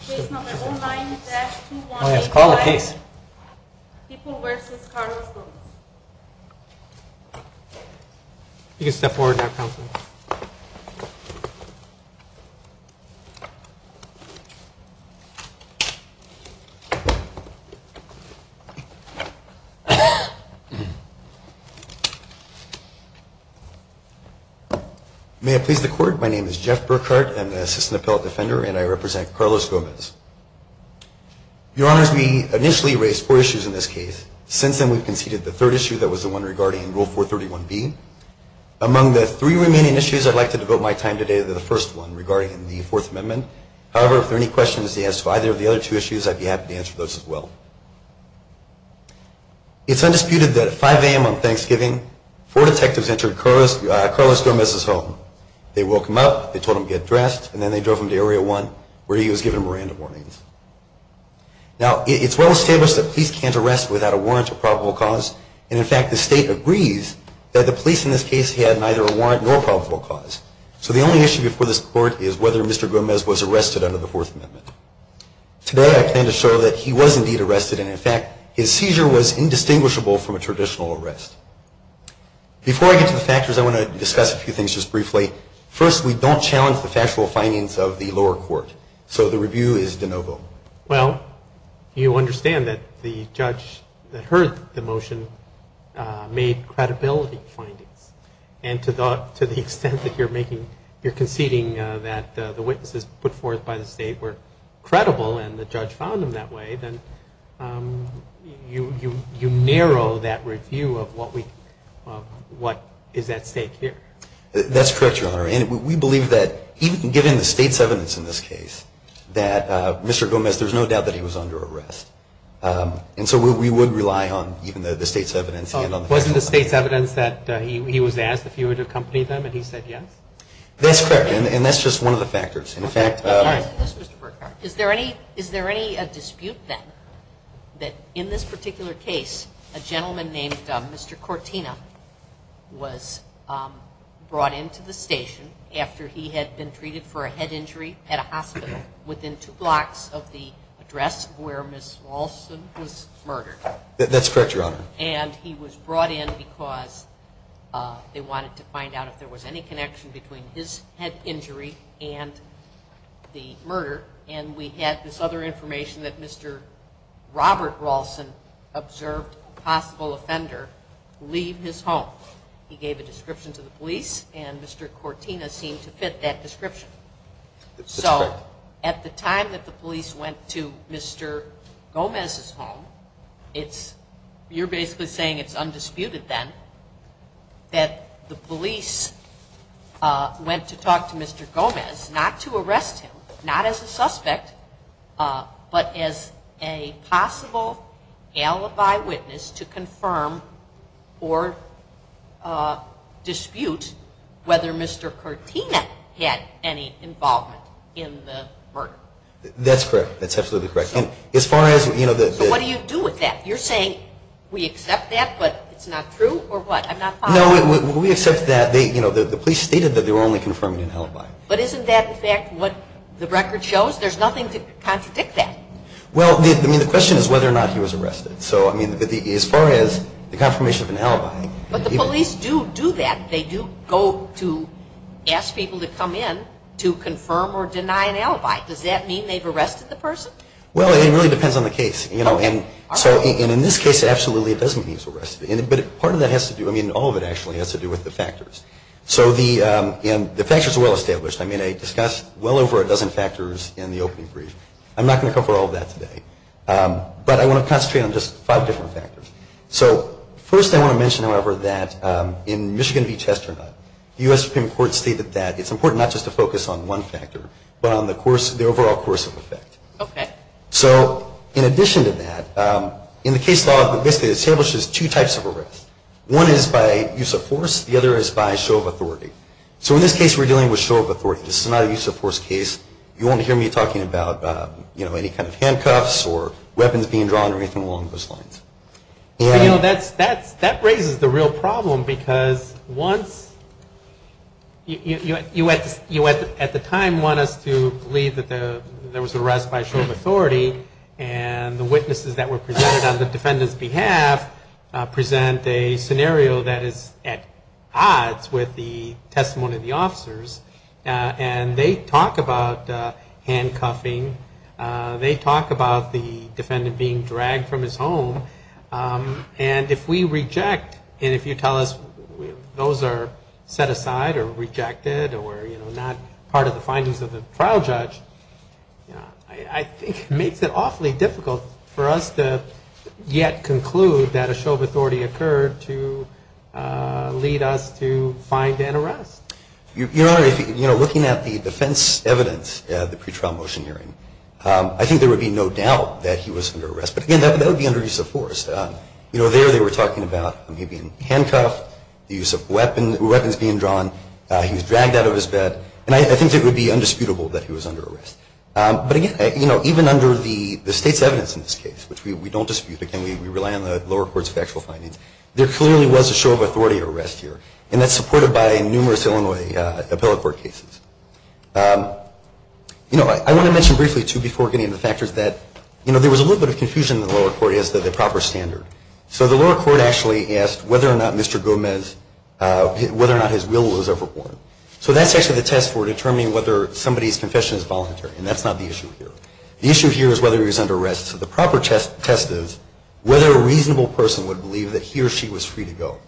Please call the case. People v. Carlos Gomez You can step forward now counsel. May it please the court, my name is Jeff Burkhardt, I'm the attorney in charge of this case. on behalf of Carlos Gomez. Your honors, we initially raised four issues in this case. Since then we've conceded the third issue that was the one regarding Rule 431B. Among the three remaining issues I'd like to devote my time today to the first one regarding the Fourth Amendment. However, if there are any questions to answer to either of the other two issues, I'd be happy to answer those as well. It's undisputed that at 5 a.m. on Thanksgiving, four detectives entered Carlos Gomez's home. They woke him up, they told him to get dressed, and then they drove him to Area 1 where he was given Miranda warnings. Now, it's well established that police can't arrest without a warrant or probable cause, and in fact the state agrees that the police in this case had neither a warrant nor probable cause. So the only issue before this court is whether Mr. Gomez was arrested under the Fourth Amendment. Today I plan to show that he was indeed arrested, and in fact his seizure was indistinguishable from a traditional arrest. Before I get to the factors, I want to discuss a few things just briefly. First, we don't challenge the factual findings of the lower court, so the review is de novo. Well, you understand that the judge that heard the motion made credibility findings, and to the extent that you're conceding that the witnesses put forth by the state were credible and the judge found them that way, then you narrow that review of what is at stake here. That's correct, Your Honor, and we believe that even given the state's evidence in this case, that Mr. Gomez, there's no doubt that he was under arrest. And so we would rely on even the state's evidence. Wasn't the state's evidence that he was asked if he would accompany them and he said yes? That's correct, and that's just one of the factors. Is there any dispute, then, that in this particular case, a gentleman named Mr. Cortina was brought into the station after he had been treated for a head injury at a hospital within two blocks of the address where Ms. Walson was murdered? That's correct, Your Honor. And he was brought in because they wanted to find out if there was any connection between his head injury and the murder, and we had this other information that Mr. Robert Walson observed a possible offender leave his home. He gave a description to the police, and Mr. Cortina seemed to fit that description. That's correct. So at the time that the police went to Mr. Gomez's home, you're basically saying it's undisputed, then, that the police went to talk to Mr. Gomez, not to arrest him, not as a suspect, but as a possible alibi witness to confirm or dispute whether Mr. Cortina had any involvement in the murder. That's correct. That's absolutely correct. And as far as, you know, the... But what do you do with that? You're saying we accept that, but it's not true, or what? I'm not following. No, we accept that they, you know, the police stated that they were only confirming an alibi. But isn't that, in fact, what the record shows? There's nothing to contradict that. Well, I mean, the question is whether or not he was arrested. So, I mean, as far as the confirmation of an alibi... But the police do do that. They do go to ask people to come in to confirm or deny an alibi. Does that mean they've arrested the person? Well, it really depends on the case, you know. And so, in this case, absolutely it doesn't mean he was arrested. But part of that has to do... I mean, all of it actually has to do with the factors. So the... And the factors are well established. I mean, I discussed well over a dozen factors in the opening brief. I'm not going to cover all of that today. But I want to concentrate on just five different factors. So first I want to mention, however, that in Michigan v. Chesternut, the U.S. Supreme Court stated that it's important not just to focus on one factor, but on the course... Okay. So, in addition to that, in the case law it basically establishes two types of arrest. One is by use of force. The other is by show of authority. So in this case we're dealing with show of authority. This is not a use of force case. You won't hear me talking about, you know, any kind of handcuffs or weapons being drawn or anything along those lines. You know, that raises the real problem because once... You at the time want us to believe that there was an arrest by show of authority and the witnesses that were presented on the defendant's behalf present a scenario that is at odds with the testimony of the officers and they talk about handcuffing. They talk about the defendant being dragged from his home. And if we reject and if you tell us those are set aside or rejected or, you know, not part of the findings of the trial judge, I think it makes it awfully difficult for us to yet conclude that a show of authority occurred to lead us to find an arrest. You know, looking at the defense evidence at the pretrial motion hearing, I think there would be no doubt that he was under arrest. But again, that would be under use of force. You know, there they were talking about him being handcuffed, the use of weapons being drawn, he was dragged out of his bed, and I think it would be undisputable that he was under arrest. But again, you know, even under the state's evidence in this case, which we don't dispute because we rely on the lower courts factual findings, there clearly was a show of authority arrest here. And that's supported by numerous Illinois appellate court cases. You know, I want to mention briefly too before getting into the factors that, you know, there was a little bit of confusion in the lower court as to the proper standard. So the lower court actually asked whether or not Mr. Gomez whether or not his will was overboard. So that's actually the test for determining whether somebody's confession is voluntary, and that's not the issue here. The issue here is whether he was under arrest. So the proper test is whether a reasonable person would believe that he or she was free to go.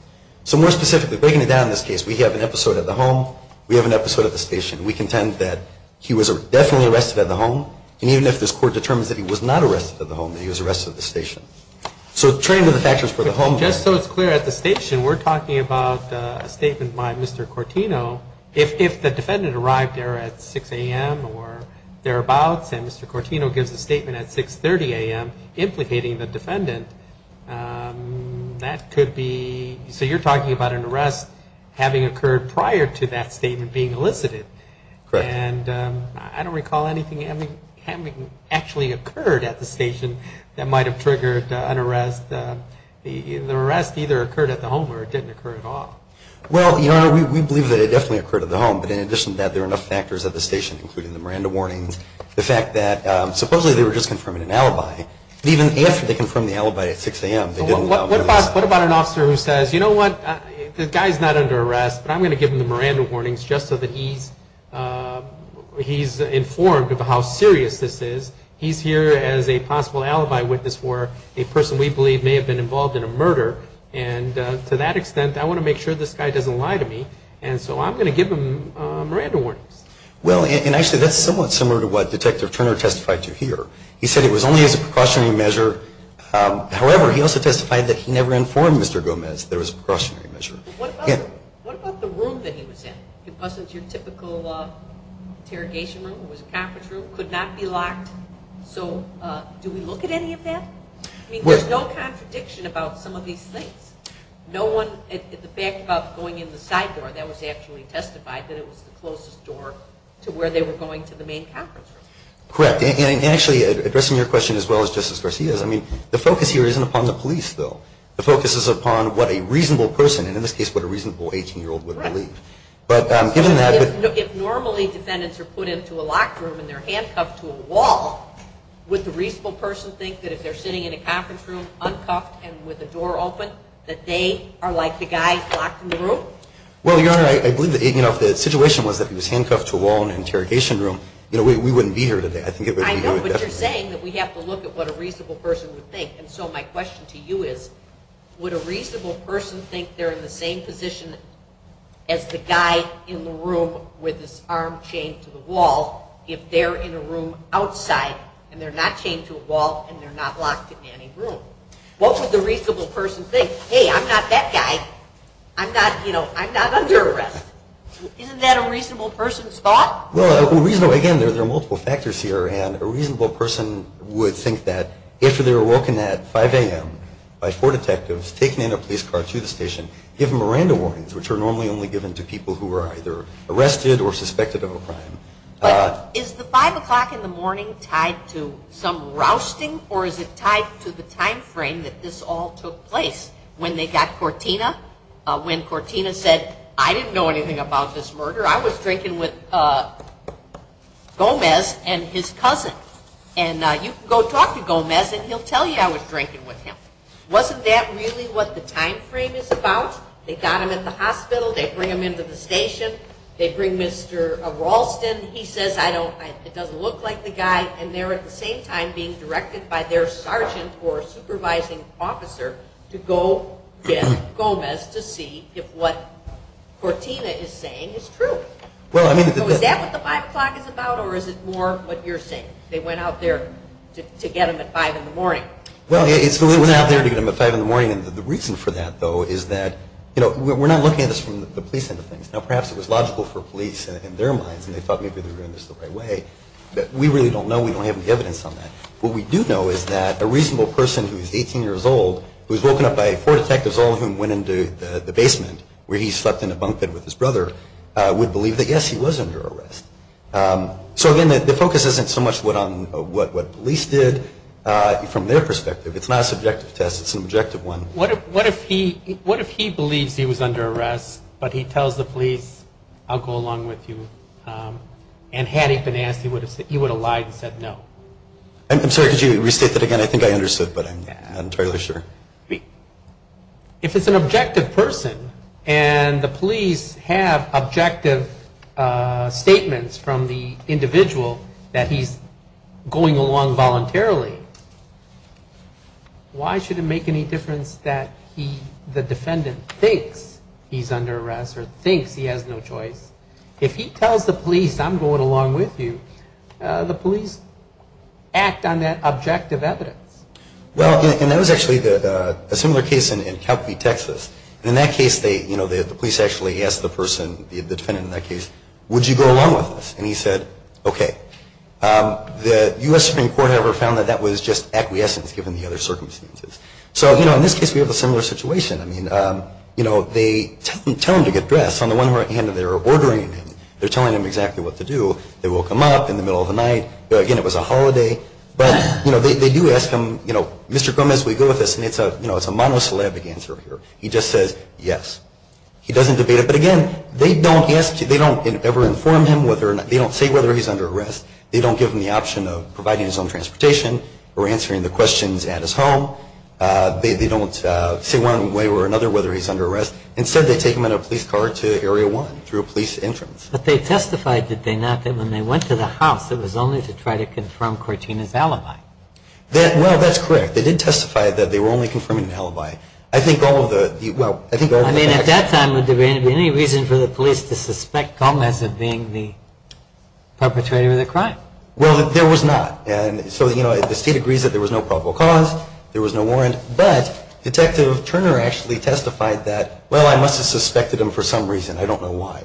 So more specifically, breaking it down in this case, we have an episode at the home, we have an episode at the station. We contend that he was definitely arrested at the home, and even if this court determines that he was not arrested at the home, that he was arrested at the station. So turning to the factors for the home. Just so it's clear, at the station, we're talking about a statement by Mr. Cortino. If the defendant arrived there at 6 a.m. or thereabouts, and Mr. Cortino gives a statement at 6.30 a.m. implicating the defendant, that could be so you're talking about an arrest having occurred prior to that statement being elicited. And I don't recall anything having actually occurred at the station that might have triggered an arrest. The arrest either occurred at the home or it didn't occur at all. Well, we believe that it definitely occurred at the home, but in addition to that there are enough factors at the station, including the Miranda warnings, the fact that supposedly they were just confirming an alibi, but even after they confirmed the alibi at 6 a.m. What about an officer who says, you know what, the guy's not under arrest, but I'm going to give him the Miranda warnings just so that he's informed of how serious this is. He's here as a possible alibi witness for a person we believe may have been involved in a murder and to that extent I want to make sure this guy doesn't lie to me, and so I'm going to give him Miranda warnings. Well, and actually that's somewhat similar to what Detective Turner testified to here. He said it was only as a precautionary measure. However, he also testified that he never informed Mr. Gomez that it was a precautionary measure. What about the room that he was in? It wasn't your typical interrogation room. It was a conference room. It could not be a conference room. Do we look at any of that? I mean, there's no contradiction about some of these things. No one, the fact about going in the side door, that was actually testified that it was the closest door to where they were going to the main conference room. Correct. And actually, addressing your question as well as Justice Garcia's, I mean, the focus here isn't upon the police, though. The focus is upon what a reasonable person, and in this case what a reasonable 18-year-old would believe. But given that If normally defendants are put into a locked room and they're handcuffed to a wall, would the reasonable person think that if they're sitting in a conference room uncuffed and with the door open, that they are like the guy locked in the room? Well, Your Honor, I believe that if the situation was that he was handcuffed to a wall in an interrogation room, you know, we wouldn't be here today. I think it would be very different. I know, but you're saying that we have to look at what a reasonable person would think. And so my question to you is would a reasonable person think they're in the same position as the guy in the room with his arm chained to the wall if they're in a room outside and they're not chained to a wall and they're not locked in any room? What would the reasonable person think? Hey, I'm not that guy. I'm not, you know, I'm not under arrest. Isn't that a reasonable person's thought? Well, again, there are multiple factors here, and a reasonable person would think that if they were woken at 5 a.m. by four detectives, taken in a police car to the station, given Miranda warnings, which are normally only given to people who are either arrested or suspected of a crime. But is the 5 o'clock in the morning tied to some rousting, or is it tied to the time frame that this all took place? When they got Cortina? When Cortina said, I didn't know anything about this murder. I was drinking with Gomez and his cousin. And you can go talk to Gomez and he'll tell you I was drinking with him. Wasn't that really what the time frame is about? They got him at the hospital, they bring him to the station, they bring Mr. Ralston, he says I don't it doesn't look like the guy, and they're at the same time being directed by their sergeant or supervising officer to go get Gomez to see if what Cortina is saying is true. So is that what the 5 o'clock is about, or is it more what you're saying? They went out there to get him at 5 in the morning. Well, they went out there to get him at 5 in the morning, and the reason for that, though, is that you know, we're not looking at this from the police end of things. Now perhaps it was logical for police in their minds, and they thought maybe they were in this the right way, but we really don't know. We don't have any evidence on that. What we do know is that a reasonable person who is 18 years old who was woken up by four detectives, all of whom went into the basement where he slept in a bunk bed with his brother, would believe that yes, he was under arrest. So again, the focus isn't so much on what police did from their perspective. It's not a subjective test. It's an objective one. What if he believes he was under arrest, but he tells the police, I'll go along with you, and had he been asked, he would have lied and said no? I'm sorry, could you restate that again? I think I understood, but I'm not entirely sure. If it's an objective person, and the police have objective statements from the individual that he's going along voluntarily, why should it make any difference that the defendant thinks he's under arrest or thinks he has no choice? If he tells the police, I'm going along with you, the police act on that objective evidence. Well, and that was actually a similar case in Calphe, Texas. In that case, the police actually asked the person, the defendant in that case, would you go along with us? And he said, okay. The U.S. Supreme Court, however, found that that was just acquiescence given the other circumstances. So in this case, we have a similar situation. They tell him to get dressed. On the one hand, they're ordering him. They're telling him exactly what to do. They woke him up in the middle of the night. Again, it was a holiday. But they do ask him, Mr. Gomez, will you go with us? And it's a monosyllabic answer here. He just says yes. He doesn't debate it. But again, they don't ever inform him whether or not, they don't say whether he's under arrest. They don't give him the option of providing his own transportation or answering the questions at his home. They don't say one way or another whether he's under arrest. Instead, they take him in a police car to Area 1 through a police entrance. But they testified, did they not, that when they went to the house, it was only to try to confirm Cortina's alibi? Well, that's correct. They did testify that they were only confirming an alibi. I think all of the, well, I think all of the facts. I mean, at that time, would there be any reason for the police to suspect Gomez of being the perpetrator of the crime? Well, there was not. And so, you know, the state agrees that there was no probable cause. There was no warrant. But Detective Turner actually testified that, well, I must have suspected him for some reason. I don't know why.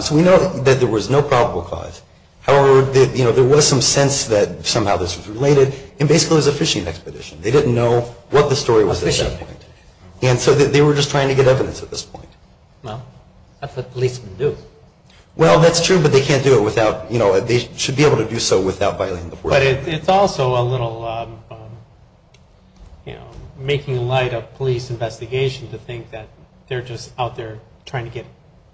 So we know that there was no probable cause. However, you know, there was some sense that somehow this was related. And basically, it was a fishing expedition. They didn't know what the story was at that point. And so they were just trying to get evidence at this point. Well, that's what policemen do. Well, that's true, but they can't do it without, you know, they should be able to do so without violating the But it's also a little, you know, making light of police investigation to think that they're just out there trying to get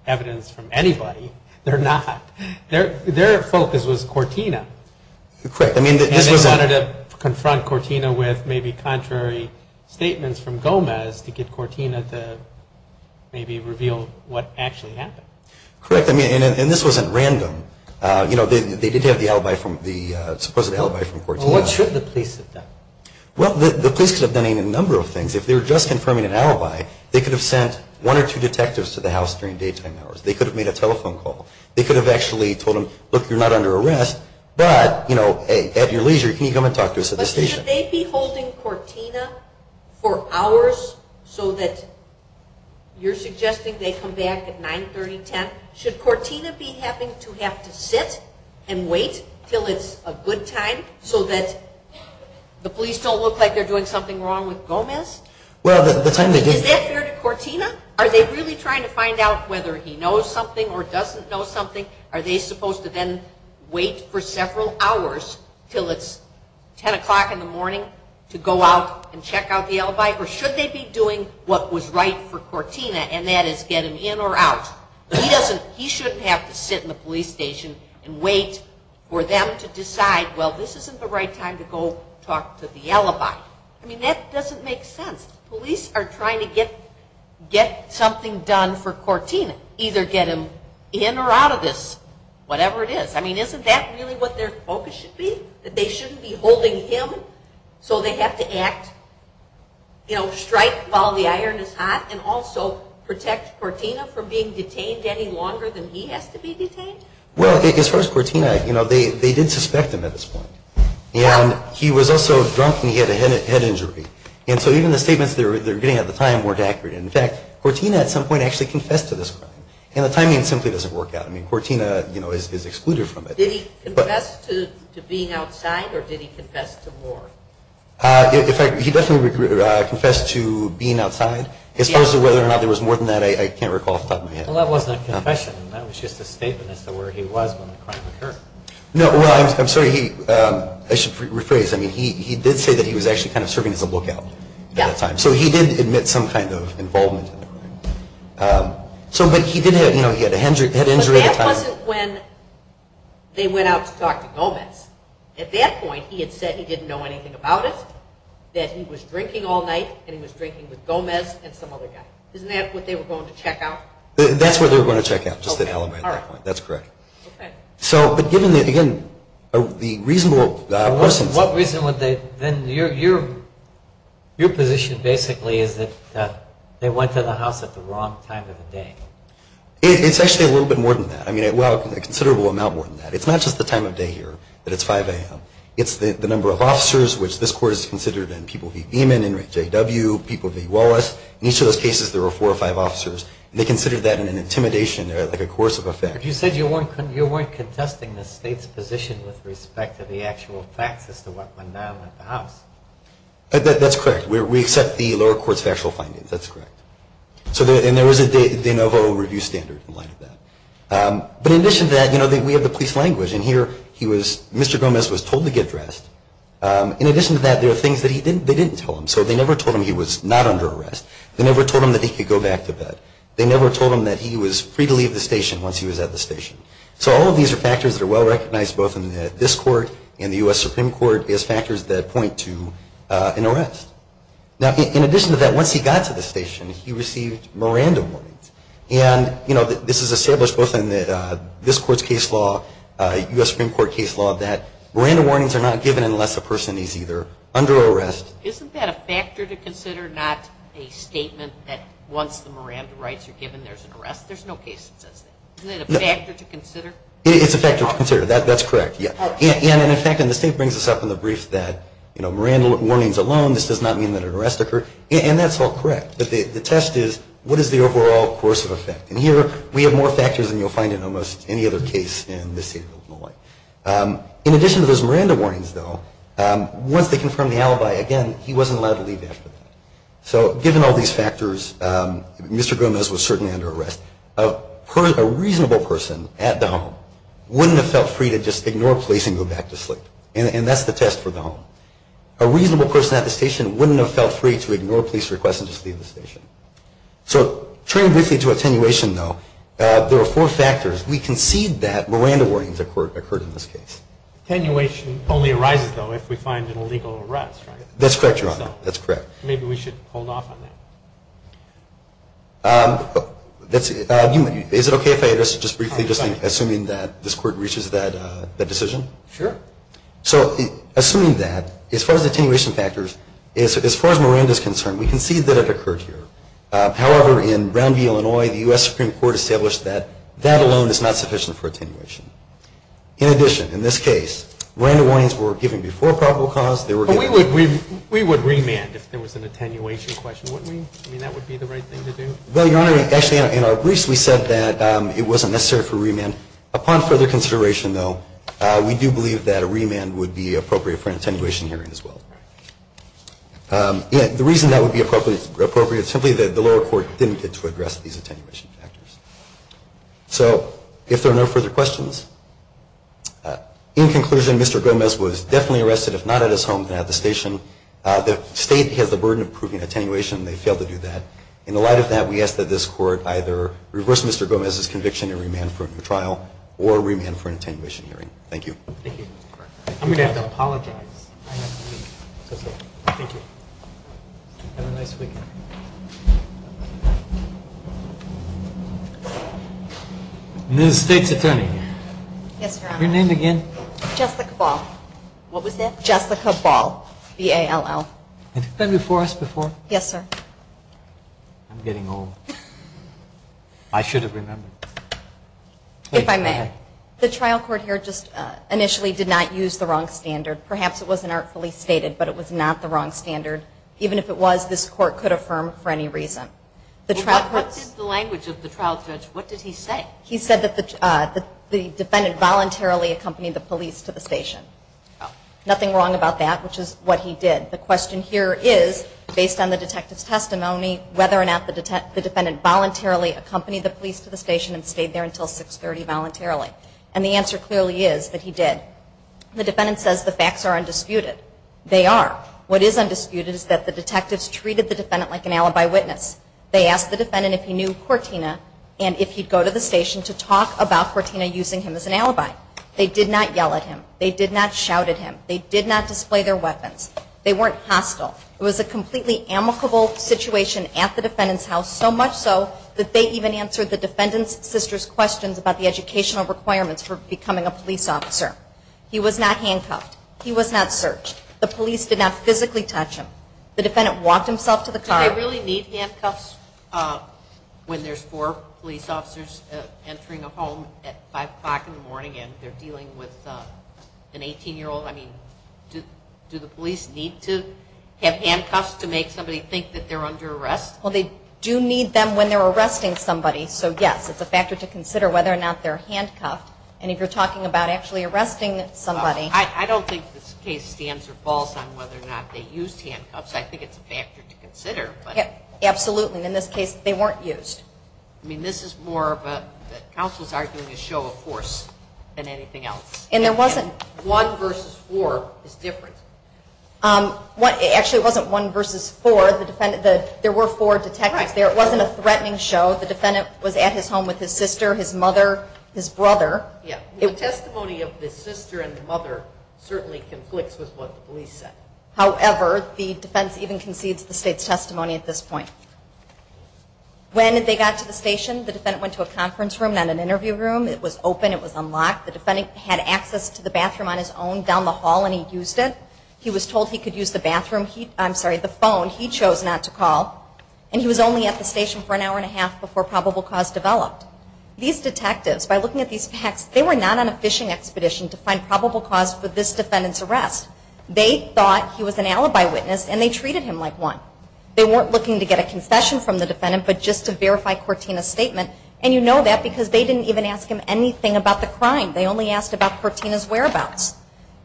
evidence from anybody. They're not. Their focus was Cortina. And they wanted to confront Cortina with maybe contrary statements from Gomez to get maybe reveal what actually happened. Correct. And this wasn't random. You know, they did have the supposed alibi from Cortina. Well, what should the police have done? Well, the police could have done a number of things. If they were just confirming an alibi, they could have sent one or two detectives to the house during daytime hours. They could have made a telephone call. They could have actually told them, look, you're not under arrest, but, you know, hey, at your leisure, can you come and talk to us at the station? But should they be holding Cortina for hours so that you're suggesting they come back at 9, 30, 10? Should Cortina be having to have to sit and wait until it's a good time so that the police don't look like they're doing something wrong with Gomez? Is that fair to Cortina? Are they really trying to find out whether he knows something or doesn't know something? Are they supposed to then wait for several hours until it's 10 o'clock in the morning to go out and check out the alibi? Or should they be doing what was right for Cortina, and that is get him in or out? He shouldn't have to sit in the police station and wait for them to decide, well, this isn't the right time to go talk to the alibi. I mean, that doesn't make sense. The police are trying to get something done for Cortina, either get him in or out of this, whatever it is. I mean, isn't that really what their focus should be, that they shouldn't be holding him so they have to act, you know, strike while the iron is hot and also protect Cortina from being detained any longer than he has to be detained? Well, I think as far as Cortina, you know, they did suspect him at this point. And he was also drunk and he had a head injury. And so even the statements they were getting at the time weren't accurate. In fact, Cortina at some point actually confessed to this crime. And the timing simply doesn't work out. I mean, Cortina is excluded from it. Did he confess to being outside or did he confess to war? In fact, he definitely confessed to being outside. As far as whether or not there was more than that, I can't recall off the top of my head. Well, that wasn't a confession. That was just a statement as to where he was when the crime occurred. No, well, I'm sorry. I should rephrase. I mean, he did say that he was actually kind of serving as a lookout at the time. So he did admit some kind of involvement in the crime. But he did have, you know, he had a head injury at the time. But that wasn't when they went out to talk to Gomez. At that point, he had said he didn't know anything about it, that he was drinking all night, and he was drinking with Gomez and some other guy. Isn't that what they were going to check out? That's what they were going to check out, just to elevate that point. That's correct. Okay. So, but given the, again, the reasonable questions. What reason would they, then your position basically is that they went to the house at the wrong time of the day. It's actually a little bit more than that. I mean, well, a considerable amount more than that. It's not just the time of day here, that it's 5 a.m. It's the number of officers, which this Court has considered in people v. Beeman, in people v. Wallace. In each of those cases, there were four or five officers. They considered that an intimidation, like a coercive effect. But you said you weren't contesting the state's position with respect to the actual facts as to what went down at the house. That's correct. We accept the lower court's factual findings. That's correct. And there was a de novo review standard in light of that. But in addition to that, you know, we have the police language. And here he was, Mr. Gomez was told to get dressed. In addition to that, there were things that he didn't, they didn't tell him. So they never told him he was not under arrest. They never told him that he could go back to bed. They never told him that he was free to leave the station once he was at the station. So all of these are factors that are well recognized both in this Court and the U.S. Supreme Court as factors that point to an arrest. Now, in addition to that, once he got to the station, he received Miranda warnings. And, you know, this is established both in this Court's case law, U.S. Supreme Court case law, that Miranda warnings are not given unless a person is either under arrest. Isn't that a factor to consider, not a statement that once the Miranda rights are given, there's an arrest? There's no case that says that. Is that a factor to consider? It's a factor to consider. That's correct. And in fact, and the state brings this up in the brief, that Miranda warnings alone, this does not mean that an arrest occurred. And that's all correct. But the test is, what is the overall course of effect? And here, we have more factors than you'll find in almost any other case in this state of Illinois. In addition to those Miranda warnings, though, once they confirm the alibi, again, he wasn't allowed to leave after that. So given all these factors, Mr. Gomez was certainly under arrest. A reasonable person at the home wouldn't have felt free to just ignore police and go back to sleep. And that's the test for the home. A reasonable person at the station wouldn't have felt free to ignore police requests and just leave the station. So turning briefly to attenuation, though, there are four factors. We concede that Miranda warnings occurred in this case. Attenuation only arises, though, if we find an illegal arrest, right? That's correct, Your Honor. That's correct. Maybe we should hold off on that. Is it okay if I address it just briefly, just assuming that this court reaches that decision? Sure. So assuming that, as far as Miranda is concerned, we concede that it occurred here. However, in Brown v. Illinois, the U.S. Supreme Court established that that alone is not sufficient for attenuation. In addition, in this case, Miranda warnings were given before probable cause. But we would remand if there was an attenuation question, wouldn't we? I mean, that would be the right thing to do? Well, Your Honor, actually, in our briefs we said that it wasn't necessary for remand. Upon further consideration, though, we do believe that a remand would be appropriate for an attenuation hearing as well. The reason that would be appropriate is simply that the lower court didn't get to address these attenuation factors. So if there are no further questions, in conclusion, Mr. Gomez was definitely arrested, if not at his home, then at the station. The State has the burden of proving attenuation. They failed to do that. In the light of that, we ask that this Court either reverse Mr. Gomez's conviction and remand for a new trial or remand for an attenuation hearing. Thank you. Thank you. I'm going to have to apologize. Thank you. Have a nice weekend. Ms. State's Attorney. Yes, Your Honor. Your name again? Jessica Ball. What was that? Jessica Ball. B-A-L-L. Have you been before us before? Yes, sir. I'm getting old. I should have remembered. If I may. The trial court here just initially did not use the wrong standard. Perhaps it wasn't artfully stated, but it was not the wrong standard. Even if it was, this Court could affirm for any reason. What did the language of the trial judge, what did he say? He said that the defendant voluntarily accompanied the police to the station. Nothing wrong about that, which is what he did. The question here is, based on the detective's testimony, whether or not the defendant voluntarily accompanied the police to the station and stayed there until 630 voluntarily. And the answer clearly is that he did. The defendant says the facts are undisputed. They are. What is undisputed is that the detectives treated the defendant like an alibi witness. They asked the defendant if he knew Cortina and if he'd go to the station to talk about Cortina using him as an alibi. They did not yell at him. They did not shout at him. They did not display their weapons. They weren't hostile. It was a completely amicable situation at the defendant's house, so much so that they even answered the defendant's sister's questions about the educational requirements for becoming a police officer. He was not handcuffed. He was not searched. The police did not physically touch him. The defendant walked himself to the car. Do they really need handcuffs when there's four police officers entering a home at 5 o'clock in the morning and they're dealing with an 18-year-old? I mean, do the police need to have handcuffs to make somebody think that they're under arrest? Well, they do need them when they're arresting somebody, so yes, it's a factor to consider whether or not they're handcuffed. And if you're talking about actually arresting somebody... I don't think this case stands or falls on whether or not they used handcuffs. I think it's a factor to consider. Absolutely. In this case, they weren't used. I mean, this is more of a... the counsel's arguing a show of force than anything else. And there wasn't... One versus four is different. Actually, it wasn't one versus four. There were four detectives there. It wasn't a threatening show. The defendant was at his home with his sister, his mother, his brother. The testimony of the sister and the mother certainly conflicts with what the police said. However, the defense even concedes the state's testimony at this point. When they got to the station, the defendant went to a conference room, not an interview room. It was open. It was unlocked. The defendant had access to the bathroom on his own down the hall and he used it. He was told he chose not to call. And he was only at the station for an hour and a half before probable cause developed. These detectives, by looking at these facts, they were not on a fishing expedition to find probable cause for this defendant's arrest. They thought he was an alibi witness and they treated him like one. They weren't looking to get a confession from the defendant, but just to verify Cortina's statement. And you know that because they didn't even ask him anything about the crime. They only asked about Cortina's whereabouts.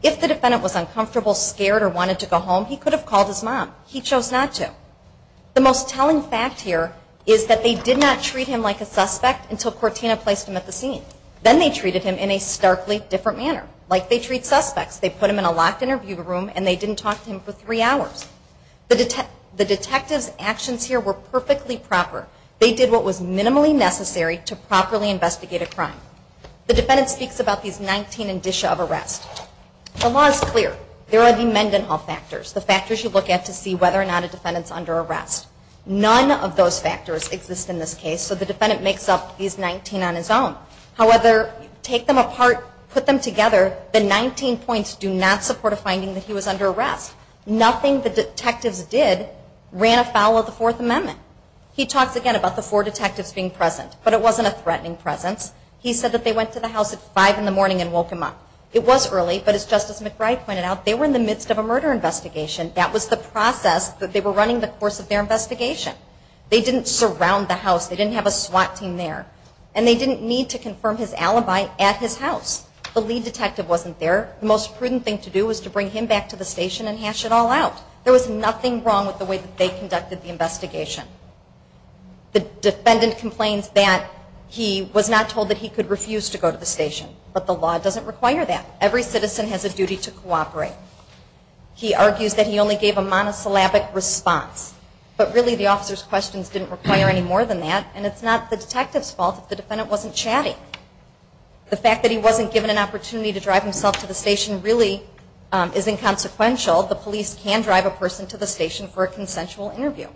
If the defendant was uncomfortable, scared, or wanted to go see his mom, he chose not to. The most telling fact here is that they did not treat him like a suspect until Cortina placed him at the scene. Then they treated him in a starkly different manner. Like they treat suspects. They put him in a locked interview room and they didn't talk to him for three hours. The detective's actions here were perfectly proper. They did what was minimally necessary to properly investigate a crime. The defendant speaks about these 19 indicia of arrest. The law is clear. There are many Mendenhall factors. The factors you look at to see whether or not a defendant's under arrest. None of those factors exist in this case, so the defendant makes up these 19 on his own. However, take them apart, put them together, the 19 points do not support a finding that he was under arrest. Nothing the detectives did ran afoul of the Fourth Amendment. He talks again about the four detectives being present, but it wasn't a threatening presence. He said that they went to the house at 5 in the morning and woke him up. It was early, but as Justice McBride pointed out, they were in the midst of a murder investigation. That was the process that they were running the course of their investigation. They didn't surround the house. They didn't have a SWAT team there. And they didn't need to confirm his alibi at his house. The lead detective wasn't there. The most prudent thing to do was to bring him back to the station and hash it all out. There was nothing wrong with the way that they conducted the investigation. The defendant complains that he was not told that he could refuse to go to the station. But the law doesn't require that. Every citizen has a duty to cooperate. He argues that he only gave a monosyllabic response. But really the officer's questions didn't require any more than that. And it's not the detective's fault if the defendant wasn't chatting. The fact that he wasn't given an opportunity to drive himself to the station really is inconsequential. The police can drive a person to the station for a consensual interview.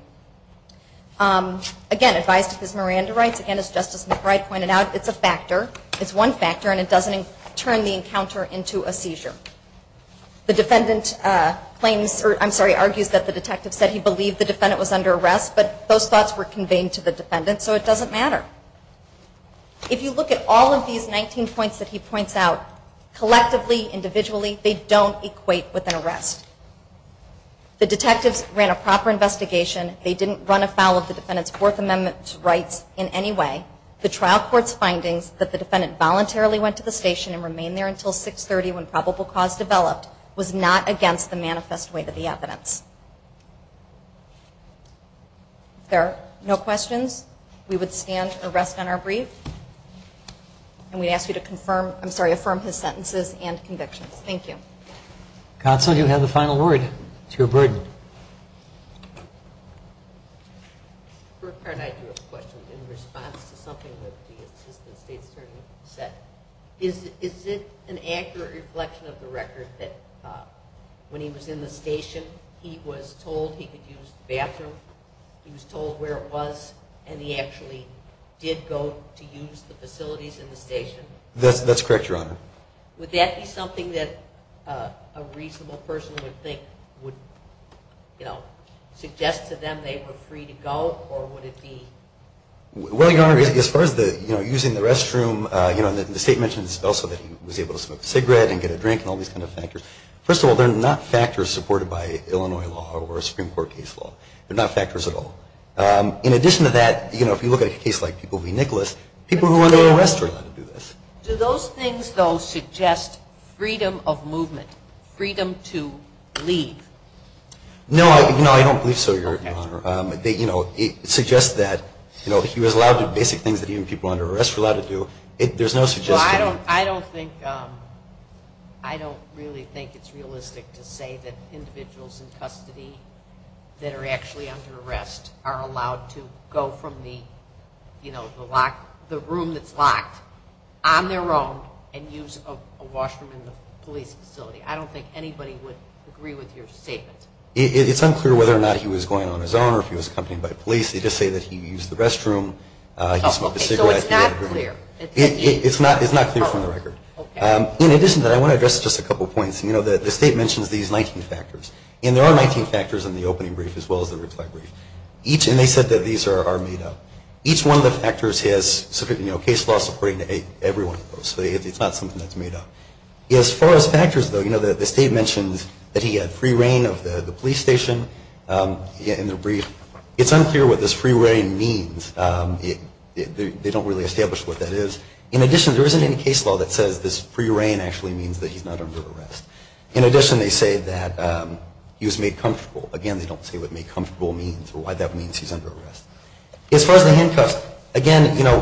Again, advised of his Miranda rights. Again, as Justice McBride pointed out, it's a factor. It's one factor. And it doesn't turn the encounter into a seizure. The defendant claims, or I'm sorry, argues that the detective said he believed the defendant was under arrest. But those thoughts were conveyed to the defendant. So it doesn't matter. If you look at all of these 19 points that he points out, collectively, individually, they don't equate with an arrest. The detectives ran a proper investigation. They didn't run afoul of the defendant's Fourth Amendment rights in any way. The trial court's findings that the defendant voluntarily went to the station and remained there until 630 when probable cause developed was not against the manifest weight of the evidence. If there are no questions, we would stand and rest on our brief. And we ask you to confirm, I'm sorry, affirm his sentences and convictions. Thank you. Counsel, you have the final word. It's your burden. I have a question in response to something that the assistant state attorney said. Is it an accurate reflection of the record that when he was in the station, he was told he could use the bathroom? He was told where it was, and he actually did go to use the facilities in the station? That's correct, Your Honor. Would that be something that a reasonable person would think would suggest to them they were free to go, or would it be? Well, Your Honor, as far as using the restroom, the state mentions also that he was able to smoke a cigarette and get a drink and all these kind of factors. First of all, they're not factors supported by Illinois law or a Supreme Court case law. They're not factors at all. In addition to that, if you look at a case like People v. Nicholas, people who are under arrest were allowed to do this. Do those things, though, suggest freedom of movement, freedom to leave? No, I don't believe so, Your Honor. It suggests that he was allowed to do basic things that even people under arrest were allowed to do. I don't think it's realistic to say that individuals in custody that are actually under arrest are allowed to go from the room that's locked on their own and use a washroom in the police facility. I don't think anybody would agree with your statement. It's unclear whether or not he was going on his own or if he was accompanied by police. They just say that he used the restroom, he smoked a cigarette. So it's not clear. It's not clear from the record. In addition to that, I want to address just a couple points. The state mentions these 19 factors, and there are 19 factors in the opening brief as well as the reply brief. Each, and they said that these are made up. Each one of the factors has case law supporting everyone. So it's not something that's made up. As far as factors, though, the state mentions that he had free reign of the police station in the brief. It's unclear what this free reign means. They don't really establish what that is. In addition, there isn't any case law that says this free reign actually means that he's not under arrest. In addition, they say that he was made comfortable. Again, they don't say what made comfortable means or why that means he's under arrest. As far as the handcuffs, again, you know,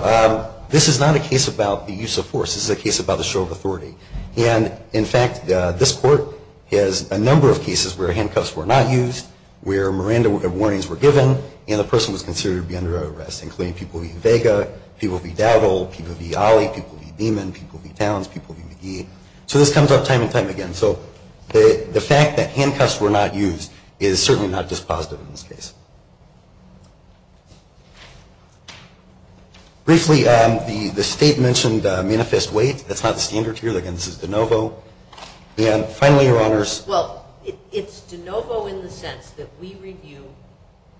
this is not a case about the use of force. This is a case about the show of authority. And, in fact, this court has a number of cases where handcuffs were not used, where Miranda warnings were given, and the person was considered to be under arrest, including people V. Vega, people V. Dowdell, people V. Ali, people V. Demon, people V. Towns, people V. McGee. So this comes up time and time again. So the fact that handcuffs were not used is certainly not dispositive in this case. Briefly, the state mentioned manifest weight. That's not the standard here. Again, this is de novo. And, finally, Your Honors. Well, it's de novo in the sense that we review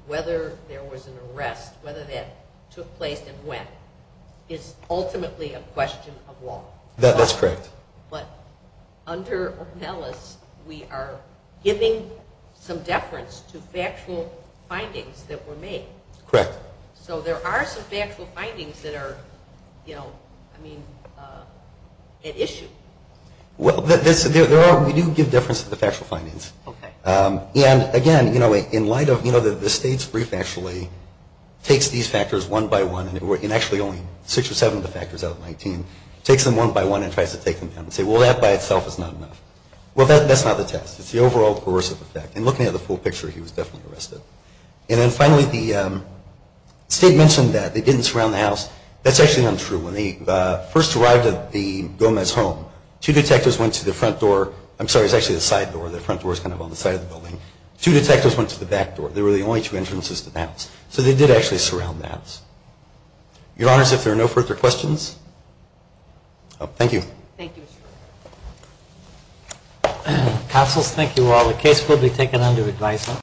whether there was an arrest, whether that took place and when. It's ultimately a question of law. That's correct. But under Ornelas, we are giving some deference to factual findings that were made. Correct. So there are some factual findings that are, you know, I mean, at issue. Well, we do give deference to the factual findings. Okay. And, again, you know, in light of, you know, the state's brief actually takes these factors one by one, and actually only six or seven of the factors out of 19, takes them one by one and tries to take them down and say, well, that by itself is not enough. Well, that's not the test. It's the overall coercive effect. And looking at the full picture, he was definitely arrested. And then, finally, the state mentioned that they didn't surround the house. That's actually not true. When they first arrived at the Gomez home, two detectives went to the front door. I'm sorry, it's actually the side door. The front door is kind of on the side of the building. Two detectives went to the back door. They were the only two entrances to the house. So they did actually surround the house. Your Honors, if there are no further questions. Thank you. Counsel, thank you all. The case will be taken under advisement.